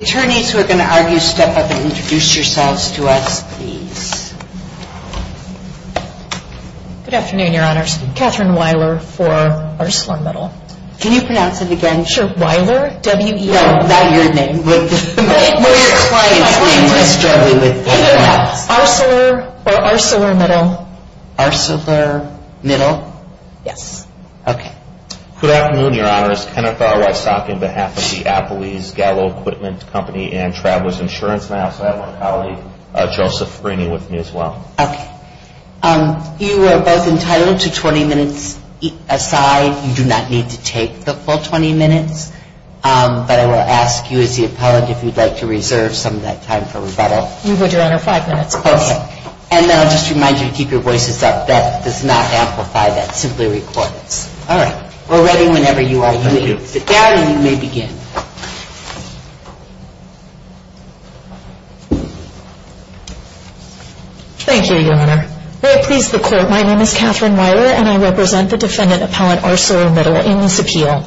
Attorneys who are going to argue, step up and introduce yourselves to us, please. Good afternoon, Your Honors. Kathryn Weiler for ArcelorMittal. Can you pronounce it again? Sure. Weiler, W-E-I-L-E-R. Not your name, but your client's name. Arcelor or ArcelorMittal. ArcelorMittal. Yes. Okay. Good afternoon, Your Honors. Kenneth Alrysock on behalf of the Appley's Gallo Equipment Company and Travelers Insurance. And I also have one colleague, Joseph Frini, with me as well. Okay. You are both entitled to 20 minutes aside. You do not need to take the full 20 minutes. But I will ask you as the appellant if you'd like to reserve some of that time for rebuttal. We would, Your Honor. Five minutes. Okay. And then I'll just remind you to keep your voices up. That does not amplify. That's simply recorded. Five minutes. All right. We're ready whenever you are ready. You may begin. Thank you, Your Honor. May it please the Court, my name is Kathryn Weiler and I represent the defendant appellant ArcelorMittal in this appeal.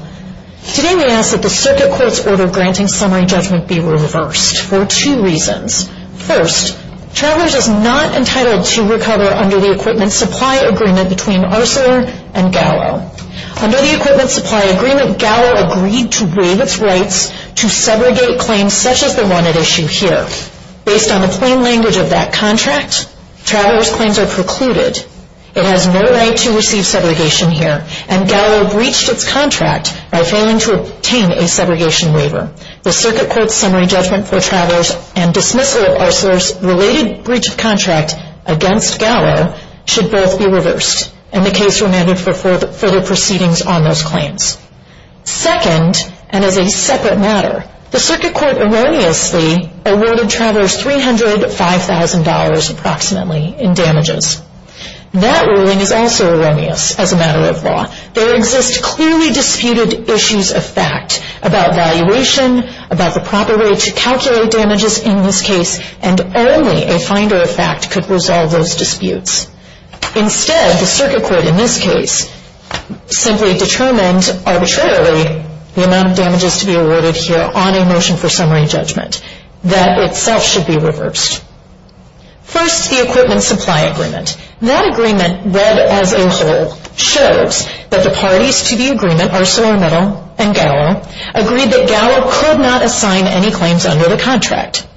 Today we ask that the circuit court's order granting summary judgment be reversed for two reasons. First, Travelers is not entitled to recover under the Equipment Supply Agreement between Arcelor and Gallo. Under the Equipment Supply Agreement, Gallo agreed to waive its rights to segregate claims such as the one at issue here. Based on the plain language of that contract, Travelers' claims are precluded. It has no right to receive segregation here. And Gallo breached its contract by failing to obtain a segregation waiver. The circuit court's summary judgment for Travelers and dismissal of Arcelor's related breach of contract against Gallo should both be reversed. And the case will be amended for further proceedings on those claims. Second, and as a separate matter, the circuit court erroneously awarded Travelers $305,000 approximately in damages. That ruling is also erroneous as a matter of law. There exist clearly disputed issues of fact about valuation, about the proper way to calculate damages in this case, and only a finder of fact could resolve those disputes. Instead, the circuit court in this case simply determined arbitrarily the amount of damages to be awarded here on a motion for summary judgment. That itself should be reversed. First, the Equipment Supply Agreement. That agreement, read as a whole, shows that the parties to the agreement, ArcelorMittal and Gallo, agreed that Gallo could not assign any claims under the contract,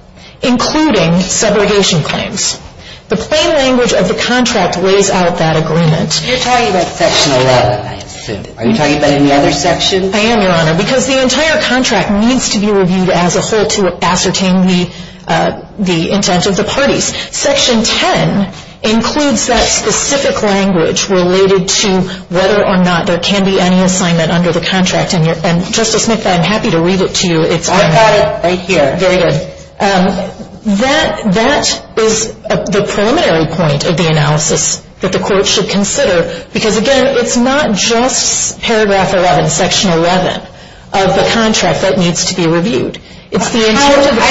including segregation claims. The plain language of the contract lays out that agreement. You're talking about Section 11, I assume. Are you talking about any other sections? I am, Your Honor, because the entire contract needs to be reviewed as a whole to ascertain the intent of the parties. Section 10 includes that specific language related to whether or not there can be any assignment under the contract. And, Justice Smith, I'm happy to read it to you. I've got it right here. Very good. That is the preliminary point of the analysis that the Court should consider, because, again, it's not just paragraph 11, Section 11 of the contract that needs to be reviewed. I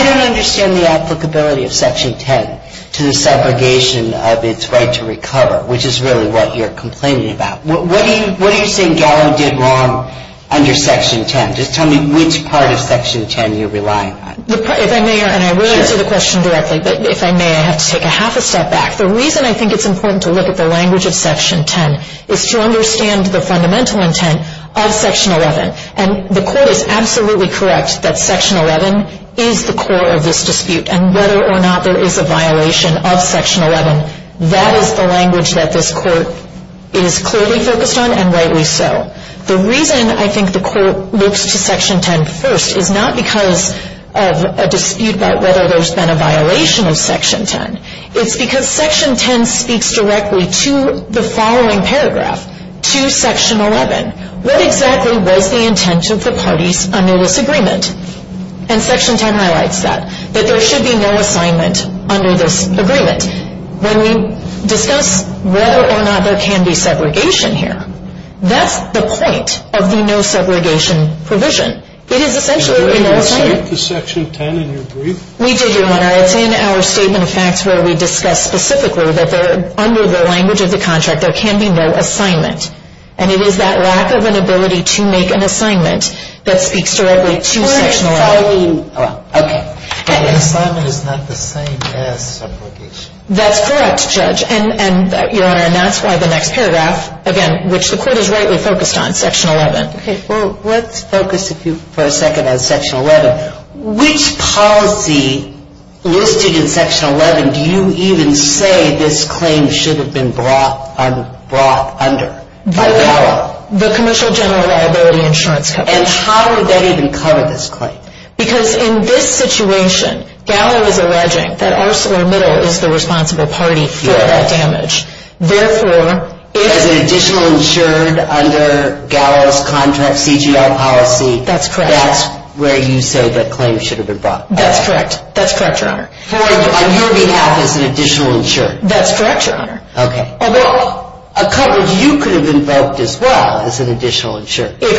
don't understand the applicability of Section 10 to the segregation of its right to recover, which is really what you're complaining about. What are you saying Gallo did wrong under Section 10? Just tell me which part of Section 10 you're relying on. If I may, and I will answer the question directly, but if I may, I have to take a half a step back. The reason I think it's important to look at the language of Section 10 is to understand the fundamental intent of Section 11. And the Court is absolutely correct that Section 11 is the core of this dispute, and whether or not there is a violation of Section 11, that is the language that this Court is clearly focused on and rightly so. The reason I think the Court looks to Section 10 first is not because of a dispute about whether there's been a violation of Section 10. It's because Section 10 speaks directly to the following paragraph, to Section 11. What exactly was the intent of the parties under this agreement? And Section 10 highlights that, that there should be no assignment under this agreement. When we discuss whether or not there can be segregation here, that's the point of the no-segregation provision. It is essentially no assignment. Did you state the Section 10 in your brief? We did, Your Honor. It's in our Statement of Facts where we discuss specifically that under the language of the contract there can be no assignment. And it is that lack of an ability to make an assignment that speaks directly to Section 11. We're not filing. Okay. An assignment is not the same as segregation. That's correct, Judge. And, Your Honor, and that's why the next paragraph, again, which the Court is rightly focused on, Section 11. Okay. Well, let's focus for a second on Section 11. Which policy listed in Section 11 do you even say this claim should have been brought under by GALA? The Commercial General Reliability Insurance Company. And how would that even cover this claim? Because in this situation, GALA is alleging that ArcelorMittal is the responsible party for that damage. Therefore, if... As an additional insured under GALA's contract CGL policy... That's correct. That's where you say that claim should have been brought. That's correct. That's correct, Your Honor. On your behalf as an additional insured. That's correct, Your Honor. Okay. Although a coverage you could have invoked as well as an additional insured. If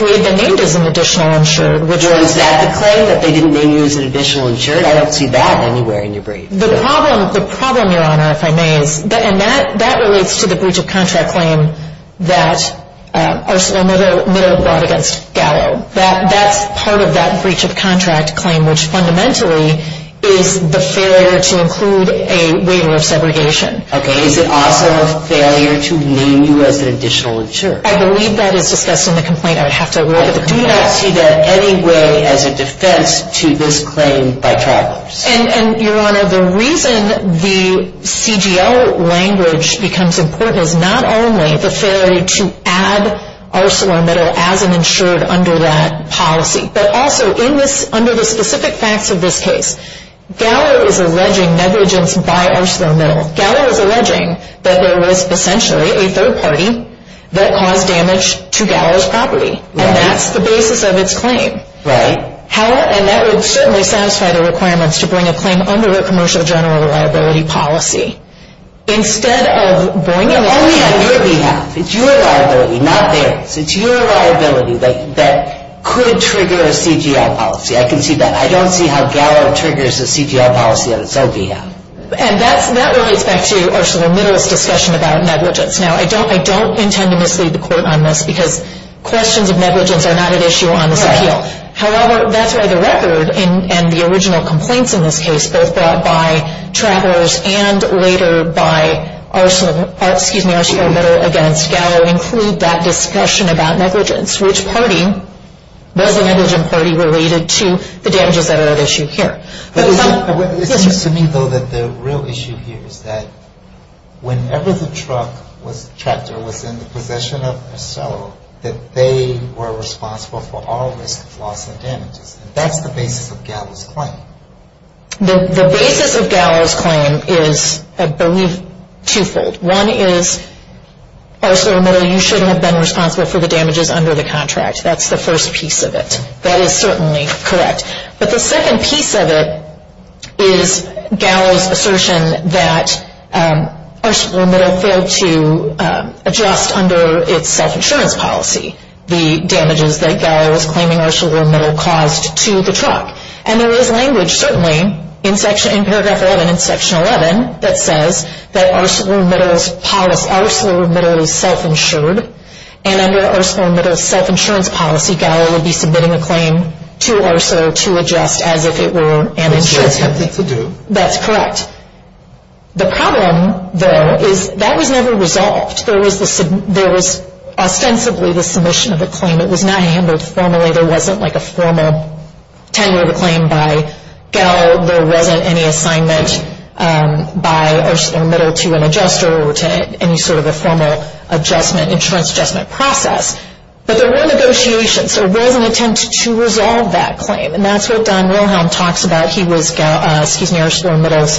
we had been named as an additional insured. Was that the claim, that they didn't name you as an additional insured? I don't see that anywhere in your brief. The problem, Your Honor, if I may, and that relates to the breach of contract claim that ArcelorMittal brought against GALA. That's part of that breach of contract claim, which fundamentally is the failure to include a waiver of segregation. Okay. Is it also a failure to name you as an additional insured? I believe that is discussed in the complaint. I would have to look at the complaint. I do not see that anyway as a defense to this claim by travelers. And, Your Honor, the reason the CGL language becomes important is not only the failure to add ArcelorMittal as an insured under that policy, but also under the specific facts of this case, GALA is alleging negligence by ArcelorMittal. GALA is alleging that there was essentially a third party that caused damage to GALA's property. Right. And that's the basis of its claim. Right. And that would certainly satisfy the requirements to bring a claim under a Commercial General Reliability Policy. Only on your behalf. It's your liability, not theirs. It's your liability that could trigger a CGL policy. I can see that. I don't see how GALA triggers a CGL policy on its own behalf. And that relates back to ArcelorMittal's discussion about negligence. Now, I don't intend to mislead the Court on this because questions of negligence are not at issue on this appeal. However, that's why the record and the original complaints in this case, both brought by Travers and later by ArcelorMittal against GALA, include that discussion about negligence. Which party was the negligent party related to the damages that are at issue here? It seems to me, though, that the real issue here is that whenever the truck, was in the possession of Arcelor, that they were responsible for all risk of loss and damages. And that's the basis of GALA's claim. The basis of GALA's claim is, I believe, twofold. One is, ArcelorMittal, you shouldn't have been responsible for the damages under the contract. That's the first piece of it. That is certainly correct. But the second piece of it is GALA's assertion that ArcelorMittal failed to adjust under its self-insurance policy the damages that GALA was claiming ArcelorMittal caused to the truck. And there is language, certainly, in paragraph 11, in section 11, that says that ArcelorMittal's policy, ArcelorMittal is self-insured. And under ArcelorMittal's self-insurance policy, GALA would be submitting a claim to Arcelor to adjust as if it were an insurance company. That's correct. The problem, though, is that was never resolved. There was ostensibly the submission of the claim. It was not handled formally. There wasn't like a formal tender of a claim by GALA. There wasn't any assignment by ArcelorMittal to an adjuster or to any sort of a formal insurance adjustment process. But there were negotiations. There was an attempt to resolve that claim. And that's what Don Wilhelm talks about. He was ArcelorMittal's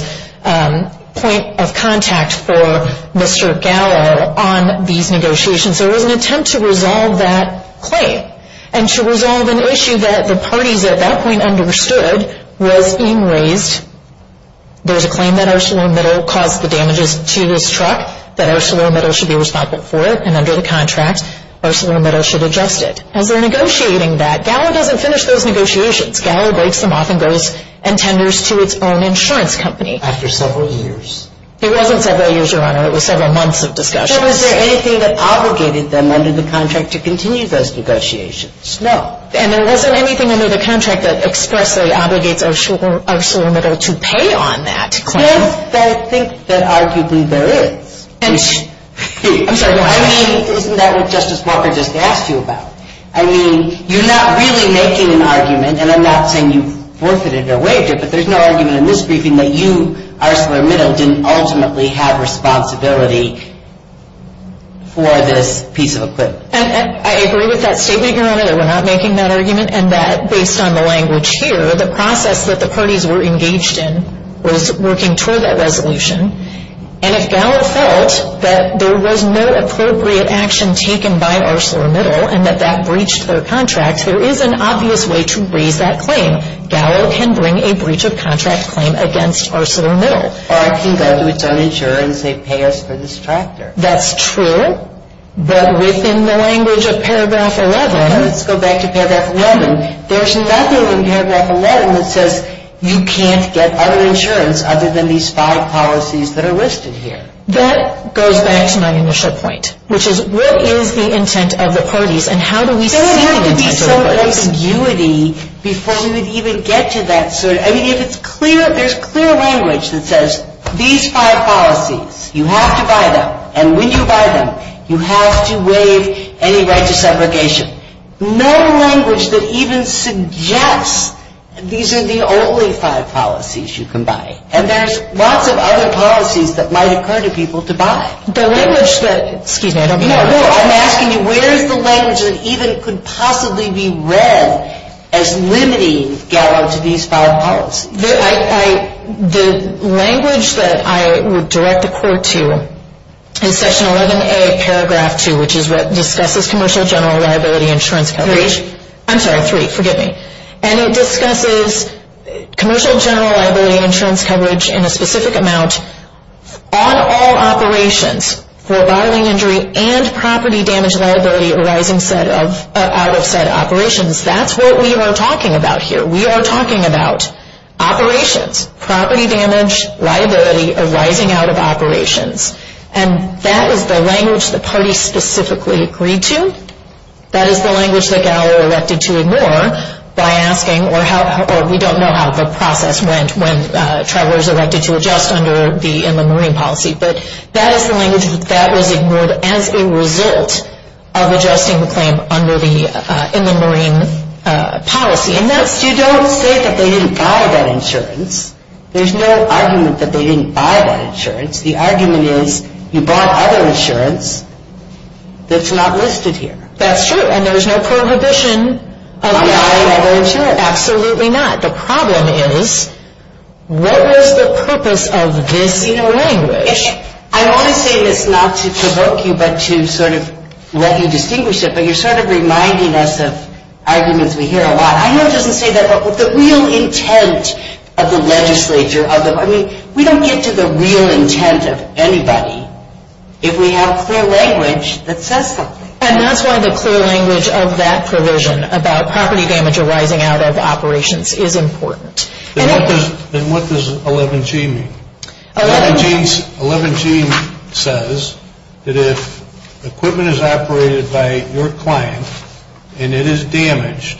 point of contact for Mr. GALA on these negotiations. There was an attempt to resolve that claim and to resolve an issue that the parties at that point understood was being raised. There's a claim that ArcelorMittal caused the damages to this truck, that ArcelorMittal should be responsible for it. And under the contract, ArcelorMittal should adjust it. As they're negotiating that, GALA doesn't finish those negotiations. GALA breaks them off and goes and tenders to its own insurance company. After several years. It wasn't several years, Your Honor. It was several months of discussions. But was there anything that obligated them under the contract to continue those negotiations? No. And there wasn't anything under the contract that expressly obligates ArcelorMittal to pay on that claim? Well, I think that arguably there is. I'm sorry, Your Honor. I mean, isn't that what Justice Walker just asked you about? I mean, you're not really making an argument, and I'm not saying you forfeited or waived it, but there's no argument in this briefing that you, ArcelorMittal, didn't ultimately have responsibility for this piece of equipment. I agree with that statement, Your Honor. We're not making that argument. And that, based on the language here, the process that the parties were engaged in was working toward that resolution. And if GALA felt that there was no appropriate action taken by ArcelorMittal and that that breached their contract, there is an obvious way to raise that claim. GALA can bring a breach of contract claim against ArcelorMittal. Or it can go to its own insurer and say, pay us for this tractor. That's true, but within the language of Paragraph 11. Let's go back to Paragraph 11. There's nothing in Paragraph 11 that says you can't get other insurance other than these five policies that are listed here. That goes back to my initial point, which is what is the intent of the parties, and how do we see the intent of the parties? There's no ambiguity before we would even get to that. I mean, if it's clear, there's clear language that says these five policies, you have to buy them. And when you buy them, you have to waive any right to segregation. No language that even suggests these are the only five policies you can buy. And there's lots of other policies that might occur to people to buy. I'm asking you, where is the language that even could possibly be read as limiting GALA to these five policies? The language that I would direct the court to is Section 11A, Paragraph 2, which is what discusses commercial general liability insurance coverage. Three. I'm sorry, three. Forgive me. And it discusses commercial general liability insurance coverage in a specific amount on all operations for bottling injury and property damage liability arising out of said operations. That's what we are talking about here. We are talking about operations. Property damage liability arising out of operations. And that is the language the parties specifically agreed to. That is the language that GALA elected to ignore by asking, or we don't know how the process went when travelers elected to adjust under the Inland Marine policy. But that is the language that was ignored as a result of adjusting the claim under the Inland Marine policy. You don't say that they didn't buy that insurance. There's no argument that they didn't buy that insurance. The argument is you bought other insurance that's not listed here. That's true. And there's no prohibition of buying other insurance. Absolutely not. The problem is, what was the purpose of this language? I want to say this not to provoke you, but to sort of let you distinguish it. But you're sort of reminding us of arguments we hear a lot. I know it doesn't say that, but the real intent of the legislature, I mean, we don't get to the real intent of anybody if we have clear language that says something. And that's why the clear language of that provision about property damage arising out of operations is important. Then what does 11G mean? 11G says that if equipment is operated by your client and it is damaged,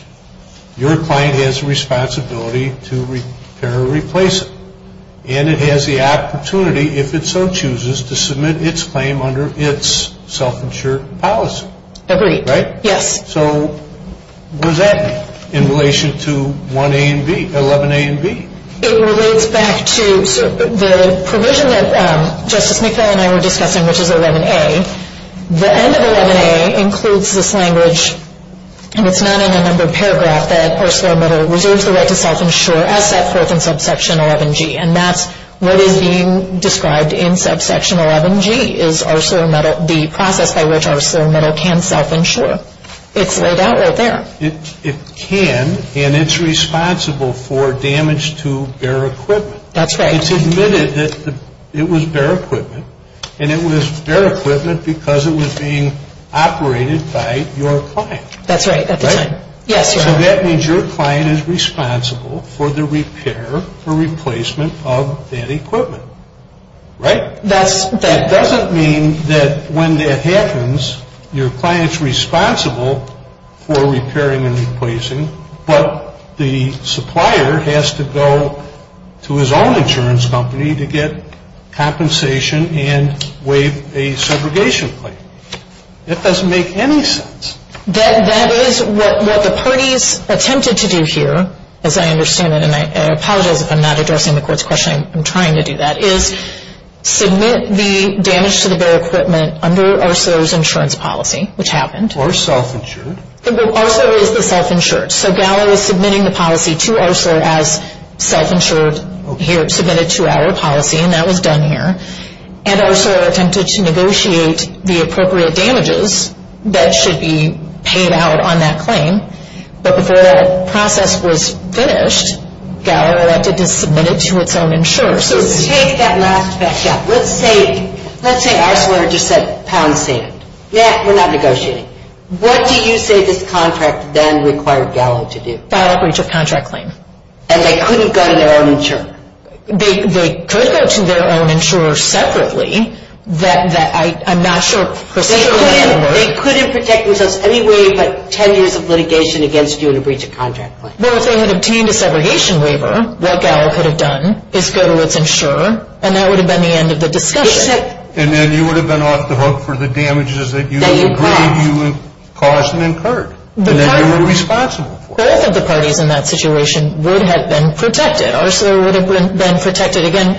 your client has a responsibility to repair or replace it. And it has the opportunity, if it so chooses, to submit its claim under its self-insured policy. Agreed. Right? Yes. So what does that mean in relation to 1A and B, 11A and B? It relates back to the provision that Justice McFarland and I were discussing, which is 11A. The end of 11A includes this language, and it's not in a number of paragraphs, that ArcelorMittal reserves the right to self-insure as set forth in subsection 11G. And that's what is being described in subsection 11G is ArcelorMittal, the process by which ArcelorMittal can self-insure. It's laid out right there. It can and it's responsible for damage to bare equipment. That's right. It's admitted that it was bare equipment, and it was bare equipment because it was being operated by your client. That's right. Right? Yes, Your Honor. So that means your client is responsible for the repair or replacement of that equipment. Right? That doesn't mean that when that happens, your client is responsible for repairing and replacing, but the supplier has to go to his own insurance company to get compensation and waive a segregation claim. That doesn't make any sense. That is what the parties attempted to do here, as I understand it, and I apologize if I'm not addressing the Court's question. I'm trying to do that, is submit the damage to the bare equipment under Arcelor's insurance policy, which happened. Or self-insured. Arcelor is the self-insured. So GALA was submitting the policy to Arcelor as self-insured here, submitted to our policy, and that was done here. And Arcelor attempted to negotiate the appropriate damages that should be paid out on that claim. But before that process was finished, GALA elected to submit it to its own insurer. So take that last step. Let's say Arcelor just said pound sand. We're not negotiating. What do you say this contract then required GALA to do? File a breach of contract claim. And they couldn't go to their own insurer? They could go to their own insurer separately. I'm not sure precisely what that would look like. They couldn't protect themselves any way but 10 years of litigation against you and a breach of contract claim. Well, if they had obtained a segregation waiver, what GALA could have done is go to its insurer, and that would have been the end of the discussion. And then you would have been off the hook for the damages that you agreed you had caused and incurred, and that you were responsible for. Both of the parties in that situation would have been protected. Arcelor would have been protected again.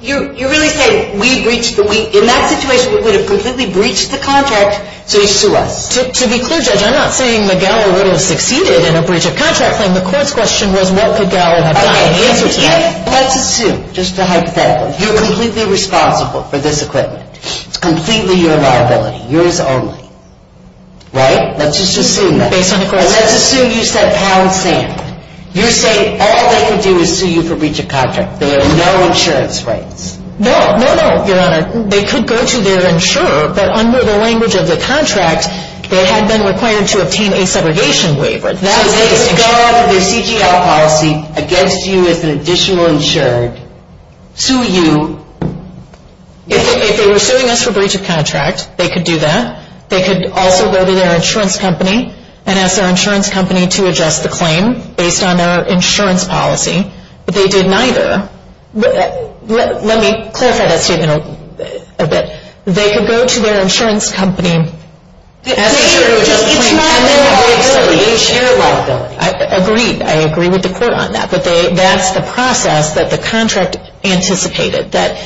You really say in that situation we would have completely breached the contract so you sue us. To be clear, Judge, I'm not saying that GALA would have succeeded in a breach of contract claim. The court's question was what could GALA have done in answer to that. Let's assume, just hypothetically, you're completely responsible for this equipment. It's completely your liability, yours only. Right? Let's just assume that. Based on the court's question. And let's assume you said pound sand. You're saying all they can do is sue you for breach of contract. There are no insurance rights. No, no, no, Your Honor. They could go to their insurer, but under the language of the contract, they had been required to obtain a segregation waiver. So they would go after the CGL policy against you as an additional insurer to sue you. If they were suing us for breach of contract, they could do that. They could also go to their insurance company and ask their insurance company to adjust the claim based on their insurance policy. But they didn't either. Let me clarify that statement a bit. They could go to their insurance company and ask their insurance company to adjust the claim. It's not your liability. It's your liability. Agreed. I agree with the court on that. But that's the process that the contract anticipated, that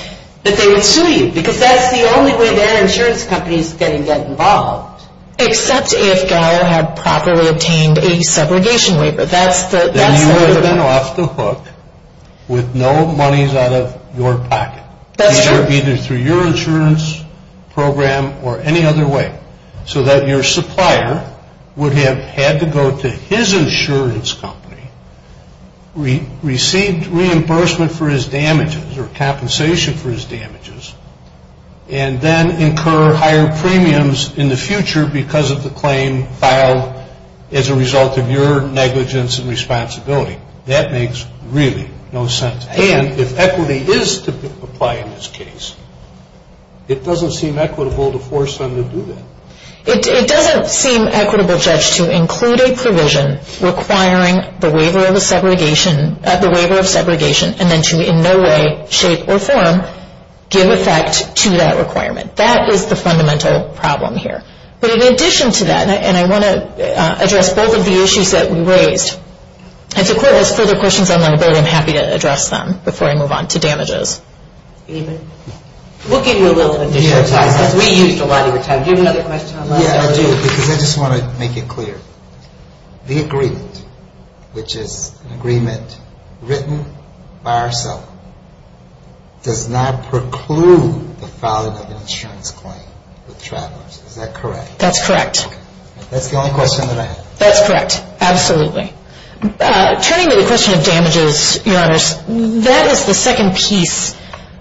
they would sue you. Because that's the only way their insurance company is going to get involved. Except if GALA had properly obtained a segregation waiver. Then you would have been off the hook with no monies out of your pocket. That's true. Either through your insurance program or any other way. So that your supplier would have had to go to his insurance company, receive reimbursement for his damages or compensation for his damages, and then incur higher premiums in the future because of the claim filed as a result of your negligence and responsibility. That makes really no sense. And if equity is to apply in this case, it doesn't seem equitable to force them to do that. It doesn't seem equitable, Judge, to include a provision requiring the waiver of segregation and then to in no way, shape, or form give effect to that requirement. That is the fundamental problem here. But in addition to that, and I want to address both of the issues that we raised. If the Court has further questions on my report, I'm happy to address them before I move on to damages. David? We'll give you a little additional time because we used a lot of your time. Do you have another question? Yeah, I do because I just want to make it clear. The agreement, which is an agreement written by ourselves, does not preclude the filing of an insurance claim with travelers. Is that correct? That's correct. That's the only question that I have. That's correct. Absolutely. Turning to the question of damages, Your Honors, that is the second piece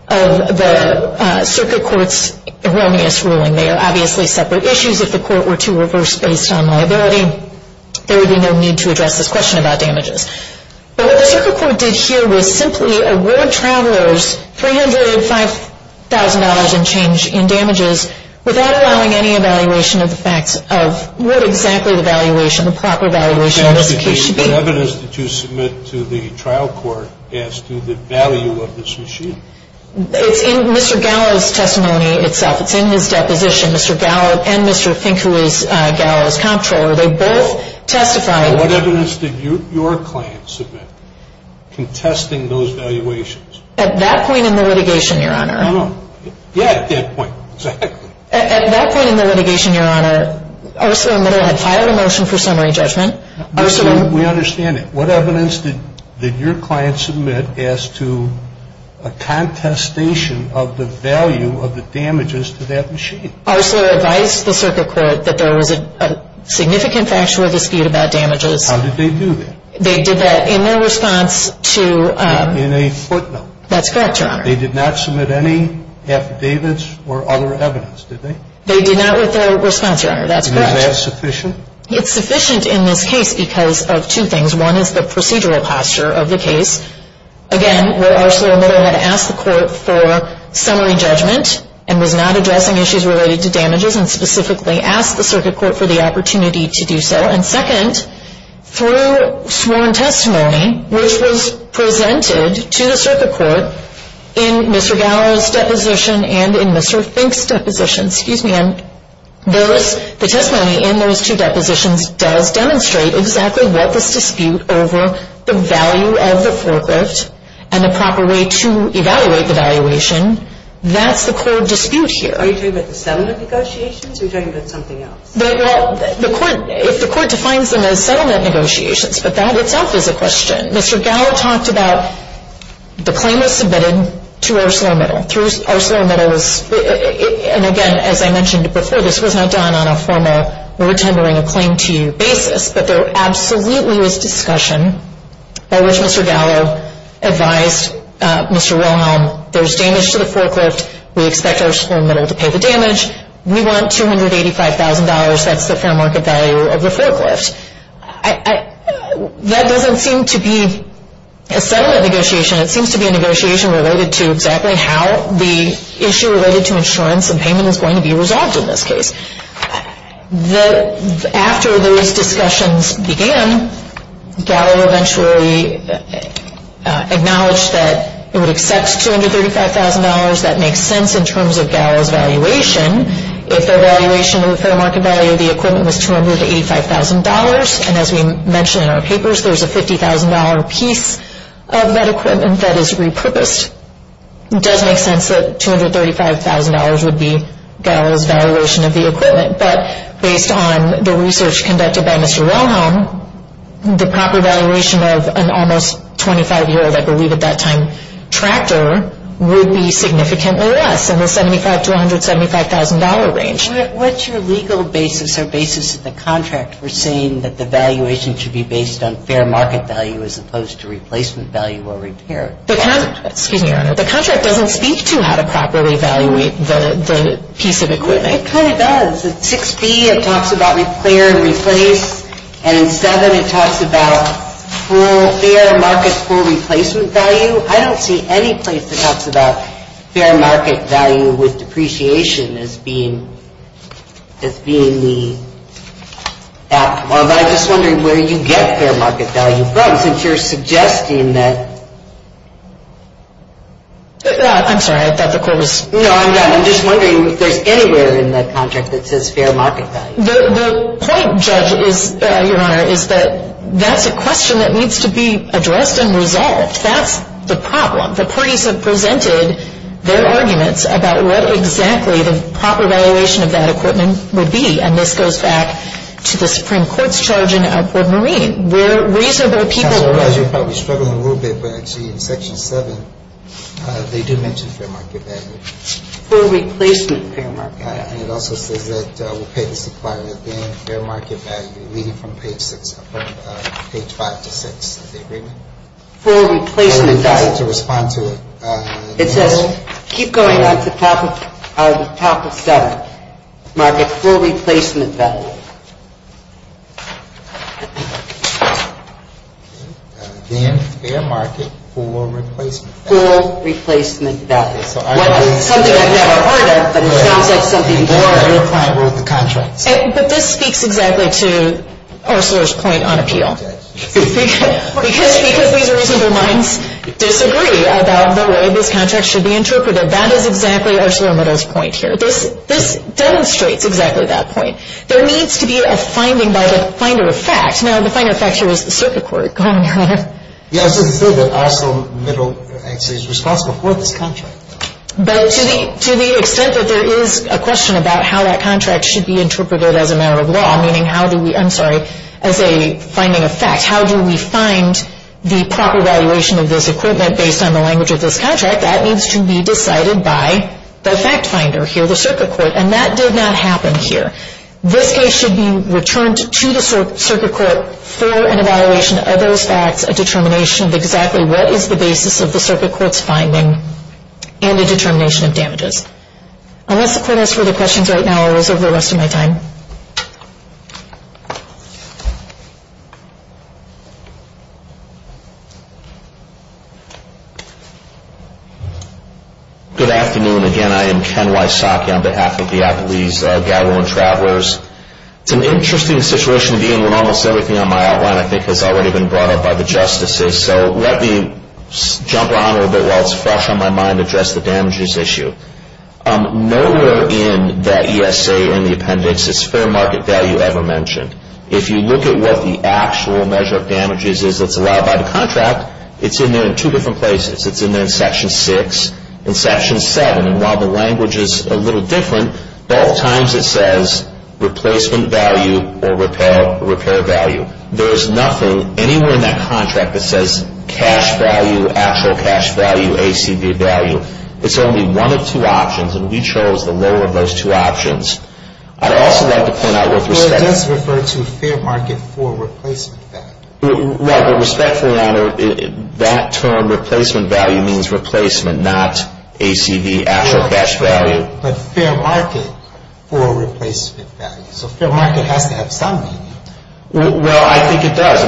of the Circuit Court's erroneous ruling. They are obviously separate issues. If the Court were to reverse based on liability, there would be no need to address this question about damages. But what the Circuit Court did here was simply award travelers $305,000 in change in damages without allowing any evaluation of the facts of what exactly the valuation, the proper valuation of this case should be. What evidence did you submit to the trial court as to the value of this machine? It's in Mr. Gallo's testimony itself. It's in his deposition. Mr. Gallo and Mr. Fink, who is Gallo's comptroller, they both testified. What evidence did your client submit contesting those valuations? At that point in the litigation, Your Honor. No, no. Yeah, at that point. Exactly. At that point in the litigation, Your Honor, ArcelorMittal had filed a motion for summary judgment. We understand that. What evidence did your client submit as to a contestation of the value of the damages to that machine? Arcelor advised the Circuit Court that there was a significant factual dispute about damages. How did they do that? They did that in their response to... In a footnote. That's correct, Your Honor. They did not submit any affidavits or other evidence, did they? They did not with their response, Your Honor. That's correct. Was that sufficient? It's sufficient in this case because of two things. One is the procedural posture of the case. Again, where ArcelorMittal had asked the court for summary judgment and was not addressing issues related to damages and specifically asked the Circuit Court for the opportunity to do so. And second, through sworn testimony, which was presented to the Circuit Court in Mr. Gallo's deposition and in Mr. Fink's deposition, excuse me, and the testimony in those two depositions does demonstrate exactly what this dispute over the value of the foregrift and the proper way to evaluate the valuation, that's the core dispute here. Are you talking about the settlement negotiations or are you talking about something else? If the court defines them as settlement negotiations, but that itself is a question. Mr. Gallo talked about the claim was submitted to ArcelorMittal. Through ArcelorMittal's, and again, as I mentioned before, this was not done on a formal we're tendering a claim to you basis, but there absolutely was discussion by which Mr. Gallo advised Mr. Wilhelm, there's damage to the foregrift, we expect ArcelorMittal to pay the damage, we want $285,000, that's the fair market value of the foregrift. That doesn't seem to be a settlement negotiation, it seems to be a negotiation related to exactly how the issue related to insurance and payment is going to be resolved in this case. After those discussions began, Gallo eventually acknowledged that it would accept $235,000, that makes sense in terms of Gallo's valuation. If the valuation of the fair market value of the equipment was $285,000, and as we mentioned in our papers, there's a $50,000 piece of that equipment that is repurposed, it does make sense that $235,000 would be Gallo's valuation of the equipment. But based on the research conducted by Mr. Wilhelm, the proper valuation of an almost 25-year, I believe at that time, tractor would be significantly less, in the $75,000 to $175,000 range. What's your legal basis or basis of the contract for saying that the valuation should be based on fair market value as opposed to replacement value or repair? The contract doesn't speak to how to properly evaluate the piece of equipment. It kind of does. At 6B, it talks about repair and replace. And in 7, it talks about fair market for replacement value. I don't see any place that talks about fair market value with depreciation as being the optimal. But I'm just wondering where you get fair market value from, since you're suggesting that... I'm sorry, I thought the call was... No, I'm done. I'm just wondering if there's anywhere in that contract that says fair market value. The point, Judge, is, Your Honor, is that that's a question that needs to be addressed and resolved. That's the problem. The parties have presented their arguments about what exactly the proper valuation of that equipment would be. And this goes back to the Supreme Court's charge in Court Marine, where reasonable people... I realize you're probably struggling a little bit, but I see in Section 7, they do mention fair market value. For replacement fair market value. And it also says that we'll pay the supplier within fair market value, leading from page 5 to 6 of the agreement. For replacement value. I would be happy to respond to it. It says, keep going on to the top of 7. Market for replacement value. Fair market for replacement value. For replacement value. Something I've never heard of, but it sounds like something more... Your client wrote the contract. But this speaks exactly to Ursula's point on appeal. Because these reasonable minds disagree about the way this contract should be interpreted. That is exactly Ursula Amado's point here. This demonstrates exactly that point. There needs to be a finding by the finder of fact. Now, the finder of fact here is the Circuit Court, Your Honor. Yes, it's true that Oslo Middle is responsible for this contract. But to the extent that there is a question about how that contract should be interpreted as a matter of law, meaning how do we, I'm sorry, as a finding of fact, how do we find the proper valuation of this equipment based on the language of this contract, that needs to be decided by the fact finder here, the Circuit Court. And that did not happen here. This case should be returned to the Circuit Court for an evaluation of those facts, a determination of exactly what is the basis of the Circuit Court's finding, and a determination of damages. Unless the Court has further questions right now, I will reserve the rest of my time. Good afternoon. Again, I am Ken Wysocki on behalf of the Appalachian Gathering Travelers. It's an interesting situation to be in when almost everything on my outline, I think, has already been brought up by the Justices. So let me jump around a little bit while it's fresh on my mind to address the damages issue. Nowhere in that ESA in the appendix is fair market value ever mentioned. If you look at what the actual measure of damage is that's allowed by the contract, it's in there in two different places. It's in there in Section 6 and Section 7. And while the language is a little different, both times it says replacement value or repair value. There is nothing anywhere in that contract that says cash value, actual cash value, ACV value. It's only one of two options, and we chose the lower of those two options. I'd also like to point out with respect to that. Well, it does refer to fair market for replacement value. Right, but respectfully, Your Honor, that term replacement value means replacement, not ACV, actual cash value. But fair market for replacement value. So fair market has to have some meaning. Well, I think it does.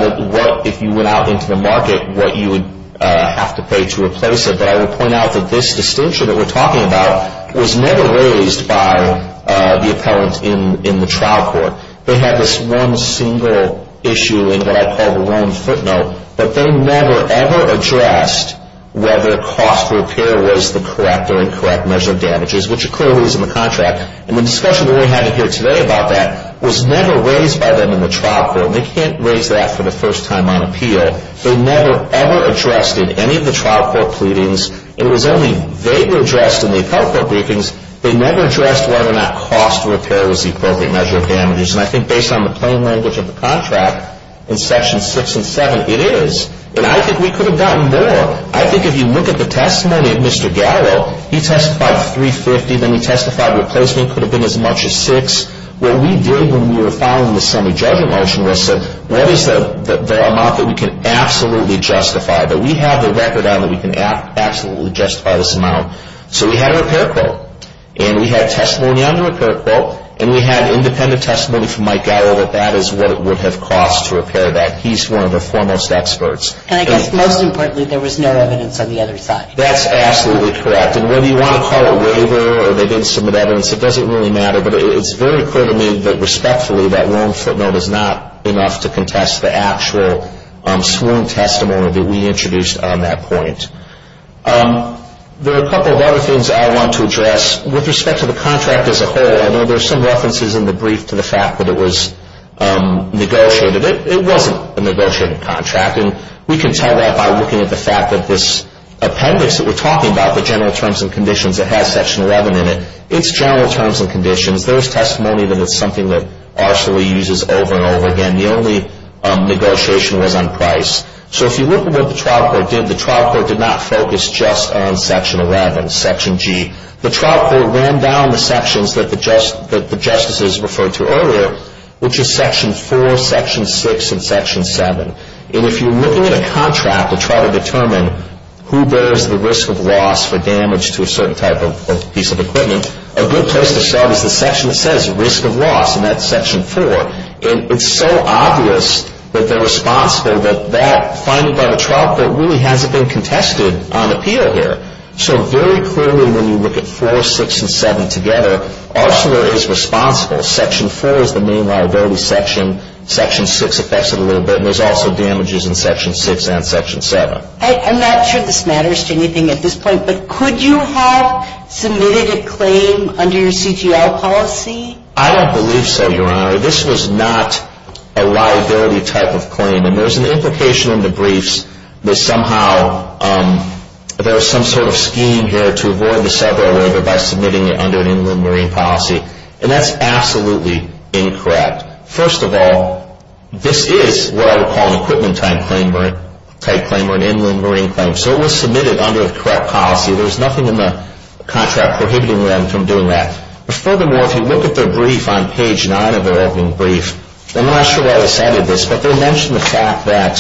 If you went out into the market, what you would have to pay to replace it. But I would point out that this distinction that we're talking about was never raised by the appellant in the trial court. They had this one single issue in what I call the wrong footnote. But they never, ever addressed whether cost repair was the correct or incorrect measure of damages, which clearly is in the contract. And the discussion we're having here today about that was never raised by them in the trial court. They can't raise that for the first time on appeal. They never, ever addressed it in any of the trial court pleadings. It was only they were addressed in the appellate court briefings. They never addressed whether or not cost repair was the appropriate measure of damages. And I think based on the plain language of the contract in sections 6 and 7, it is. And I think we could have gotten more. So I think if you look at the testimony of Mr. Gallo, he testified $350,000. Then he testified replacement could have been as much as $600,000. What we did when we were filing the semi-judgment motion was said, what is the amount that we can absolutely justify, that we have the record on that we can absolutely justify this amount? So we had a repair quote. And we had testimony on the repair quote. And we had independent testimony from Mike Gallo that that is what it would have cost to repair that. He's one of the foremost experts. And I guess most importantly, there was no evidence on the other side. That's absolutely correct. And whether you want to call it waiver or they didn't submit evidence, it doesn't really matter. But it's very clear to me that respectfully, that loan footnote is not enough to contest the actual sworn testimony that we introduced on that point. There are a couple of other things I want to address with respect to the contract as a whole. I know there's some references in the brief to the fact that it was negotiated. It wasn't a negotiated contract. And we can tell that by looking at the fact that this appendix that we're talking about, the general terms and conditions, it has Section 11 in it. It's general terms and conditions. There's testimony that it's something that ARSA uses over and over again. The only negotiation was on price. So if you look at what the trial court did, the trial court did not focus just on Section 11, Section G. The trial court ran down the sections that the justices referred to earlier, which is Section 4, Section 6, and Section 7. And if you're looking at a contract to try to determine who bears the risk of loss for damage to a certain type of piece of equipment, a good place to start is the section that says risk of loss, and that's Section 4. And it's so obvious that they're responsible that that finding by the trial court really hasn't been contested on appeal here. So very clearly when you look at 4, 6, and 7 together, ARSA is responsible. Section 4 is the main liability section. Section 6 affects it a little bit, and there's also damages in Section 6 and Section 7. I'm not sure this matters to anything at this point, but could you have submitted a claim under your CTL policy? I don't believe so, Your Honor. This was not a liability type of claim. And there's an implication in the briefs that somehow there was some sort of scheme here to avoid the several waiver by submitting it under an inland marine policy, and that's absolutely incorrect. First of all, this is what I would call an equipment type claim or an inland marine claim, so it was submitted under the correct policy. There's nothing in the contract prohibiting them from doing that. But furthermore, if you look at their brief on page 9 of their opening brief, I'm not sure why they cited this, but they mentioned the fact that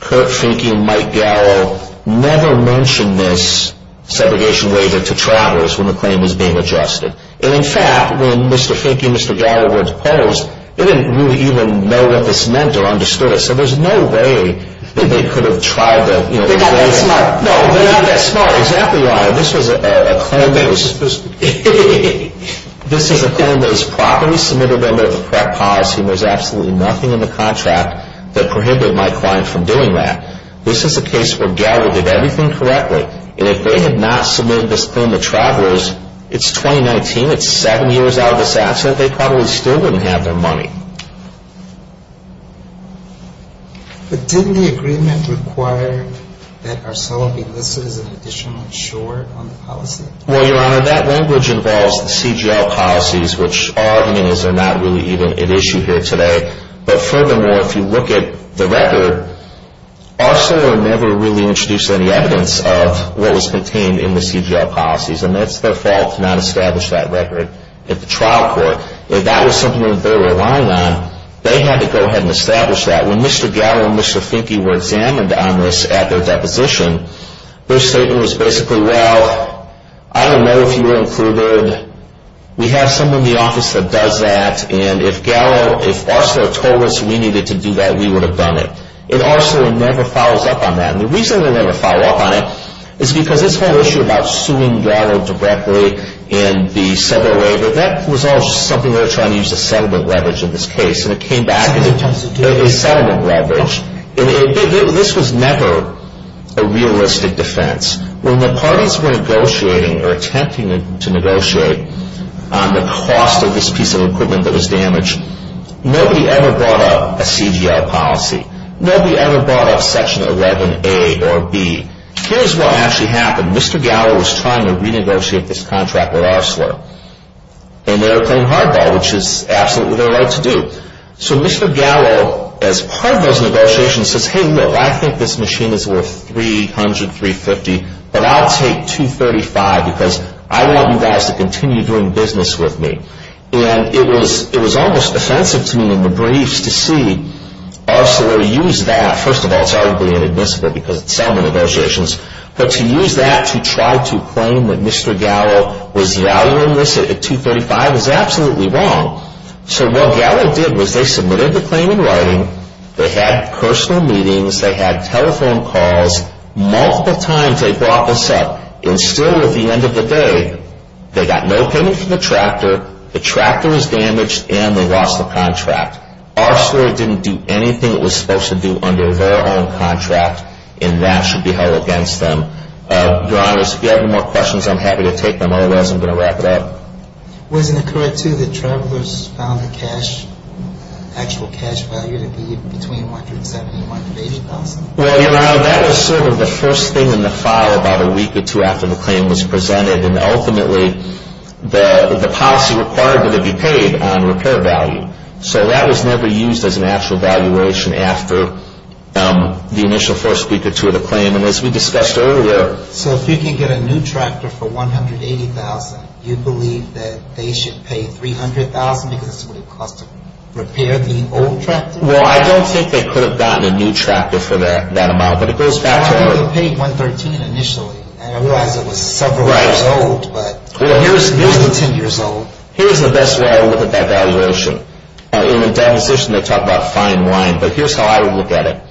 Kurt Finke and Mike Garrow never mentioned this segregation waiver to travelers when the claim was being adjusted. And in fact, when Mr. Finke and Mr. Garrow were opposed, they didn't really even know what this meant or understood it, so there's no way that they could have tried to, you know, raise it. They're not that smart. No, they're not that smart. Exactly, Your Honor. This was a claim that was supposed to be. This is a claim that was properly submitted under the correct policy, and there's absolutely nothing in the contract that prohibited my client from doing that. This is a case where Garrow did everything correctly, and if they had not submitted this claim to travelers, it's 2019. It's seven years out of this accident. They probably still wouldn't have their money. But didn't the agreement require that ARSOLA be listed as an additional insurer on the policy? Well, Your Honor, that language involves the CGL policies, which our argument is they're not really even at issue here today. But furthermore, if you look at the record, ARSOLA never really introduced any evidence of what was contained in the CGL policies, and that's their fault to not establish that record at the trial court. If that was something that they were relying on, they had to go ahead and establish that. When Mr. Garrow and Mr. Finke were examined on this at their deposition, their statement was basically, well, I don't know if you were included. We have someone in the office that does that, and if ARSOLA told us we needed to do that, we would have done it. And ARSOLA never follows up on that. And the reason they never follow up on it is because this whole issue about suing Garrow directly in the settlement waiver, that was all something they were trying to use as settlement leverage in this case, and it came back as a settlement leverage. This was never a realistic defense. When the parties were negotiating or attempting to negotiate on the cost of this piece of equipment that was damaged, nobody ever brought up a CGL policy. Nobody ever brought up Section 11A or B. Here's what actually happened. Mr. Garrow was trying to renegotiate this contract with ARSOLA, and they were playing hardball, which is absolutely their right to do. So Mr. Garrow, as part of those negotiations, says, hey, look, I think this machine is worth $300, $350, but I'll take $235 because I want you guys to continue doing business with me. And it was almost offensive to me in the briefs to see ARSOLA use that. First of all, it's arguably inadmissible because it's settlement negotiations, but to use that to try to claim that Mr. Garrow was valuing this at $235 is absolutely wrong. So what Garrow did was they submitted the claim in writing, they had personal meetings, they had telephone calls, multiple times they brought this up, and still at the end of the day, they got no payment from the tractor, the tractor was damaged, and they lost the contract. ARSOLA didn't do anything it was supposed to do under their own contract, and that should be held against them. Your Honors, if you have any more questions, I'm happy to take them. Otherwise, I'm going to wrap it up. Wasn't it correct, too, that travelers found the actual cash value to be between $170,000 and $180,000? Well, Your Honor, that was sort of the first thing in the file about a week or two after the claim was presented, and ultimately the policy required that it be paid on repair value. So that was never used as an actual valuation after the initial first week or two of the claim. And as we discussed earlier So if you can get a new tractor for $180,000, you believe that they should pay $300,000 because of what it costs to repair the old tractor? Well, I don't think they could have gotten a new tractor for that amount, but it goes back to earlier. But how do you pay $113,000 initially? I realize it was several years old, but it wasn't 10 years old. Here's the best way I would look at that valuation. In the demonstration, they talk about fine wine, but here's how I would look at it.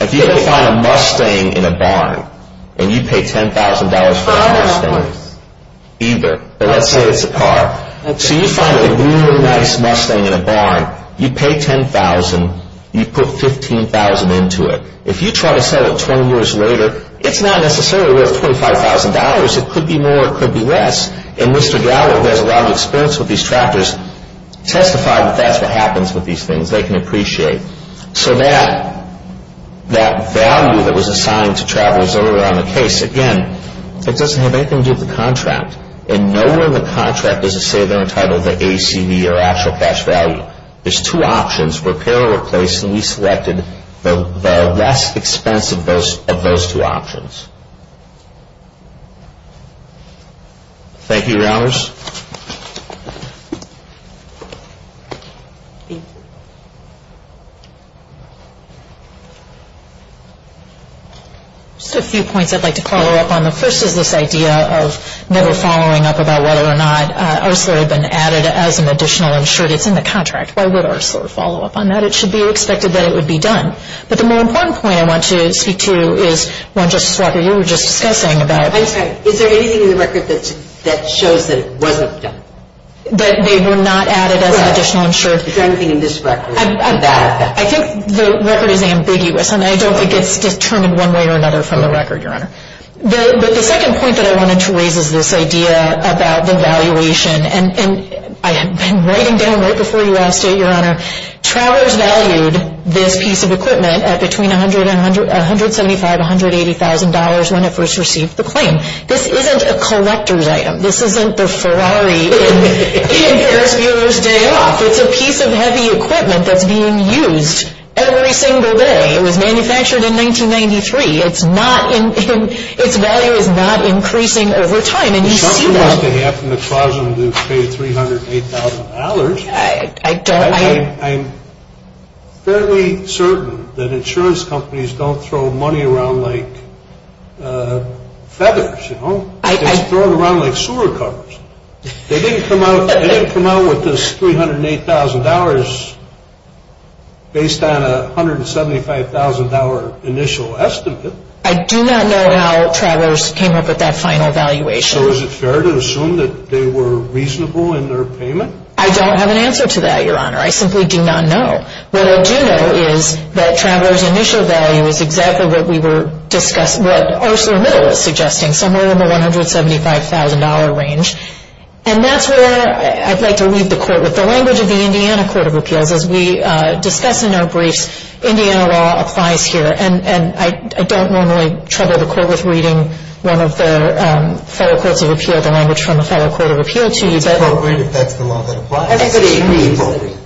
If you had to find a Mustang in a barn, and you pay $10,000 for a Mustang. For a car, of course. Either. Let's say it's a car. So you find a really nice Mustang in a barn. You pay $10,000. You put $15,000 into it. If you try to sell it 20 years later, it's not necessarily worth $25,000. It could be more, it could be less. And Mr. Gallagher, who has a lot of experience with these tractors, testified that that's what happens with these things. They can appreciate. So that value that was assigned to travelers earlier on the case, again, it doesn't have anything to do with the contract. And nowhere in the contract does it say they're entitled to ACV or actual cash value. There's two options, repair or replace, and we selected the less expensive of those two options. Thank you, rounders. Just a few points I'd like to follow up on. The first is this idea of never following up about whether or not Arcelor had been added as an additional insured. It's in the contract. Why would Arcelor follow up on that? It should be expected that it would be done. But the more important point I want to speak to is one, Justice Walker, you were just discussing about. I'm sorry. Is there anything in the record that shows that it wasn't done? That they were not added as an additional insured? There's nothing in this record about that. I think the record is ambiguous, and I don't think it's determined one way or another from the record, Your Honor. But the second point that I wanted to raise is this idea about the valuation. And I had been writing down right before you asked it, Your Honor, Travers valued this piece of equipment at between $175,000 to $180,000 when it first received the claim. This isn't a collector's item. This isn't the Ferrari in Ferris Bueller's Day Off. It's a piece of heavy equipment that's being used every single day. It was manufactured in 1993. Its value is not increasing over time. And you see that. Something must have happened to cause them to pay $308,000. I don't. I'm fairly certain that insurance companies don't throw money around like feathers, you know. It's thrown around like sewer covers. They didn't come out with this $308,000 based on a $175,000 initial estimate. I do not know how Travers came up with that final valuation. So is it fair to assume that they were reasonable in their payment? I don't have an answer to that, Your Honor. I simply do not know. What I do know is that Travers' initial value is exactly what we were discussing, what ArcelorMittal is suggesting, somewhere in the $175,000 range. And that's where I'd like to leave the Court with. The language of the Indiana Court of Appeals, as we discuss in our briefs, Indiana law applies here. And I don't normally trouble the Court with reading one of the fellow courts of appeal, the language from a fellow court of appeal to you. It's appropriate if that's the law that applies.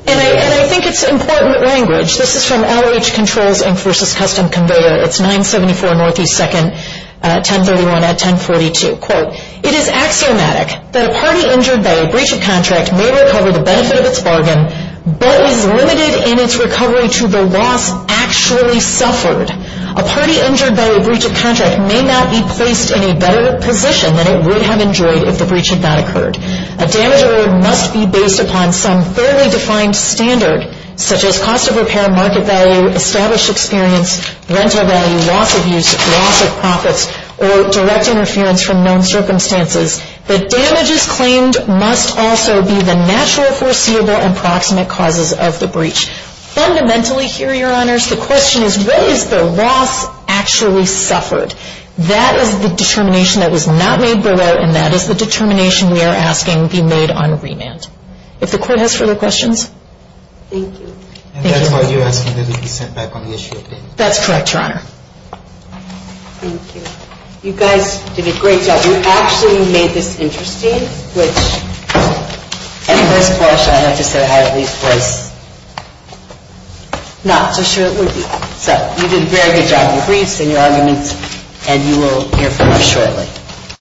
And I think it's important language. This is from LH Controls Inc. v. Custom Conveyor. It's 974 Northeast 2nd, 1031 at 1042. Quote, It is axiomatic that a party injured by a breach of contract may recover the benefit of its bargain, but is limited in its recovery to the loss actually suffered. A party injured by a breach of contract may not be placed in a better position than it would have enjoyed if the breach had not occurred. A damage award must be based upon some fairly defined standard, such as cost of repair, market value, established experience, rental value, loss of use, loss of profits, or direct interference from known circumstances. The damages claimed must also be the natural, foreseeable, and proximate causes of the breach. Fundamentally here, Your Honors, the question is what is the loss actually suffered? That is the determination that was not made below, and that is the determination we are asking be made on remand. If the Court has further questions? Thank you. And that is why you are asking that it be sent back on the issue of damages. That is correct, Your Honor. Thank you. You guys did a great job. You actually made this interesting, which at first blush, I have to say, I at least was not so sure it would be. So you did a very good job of your briefs and your arguments, and you will hear from me shortly.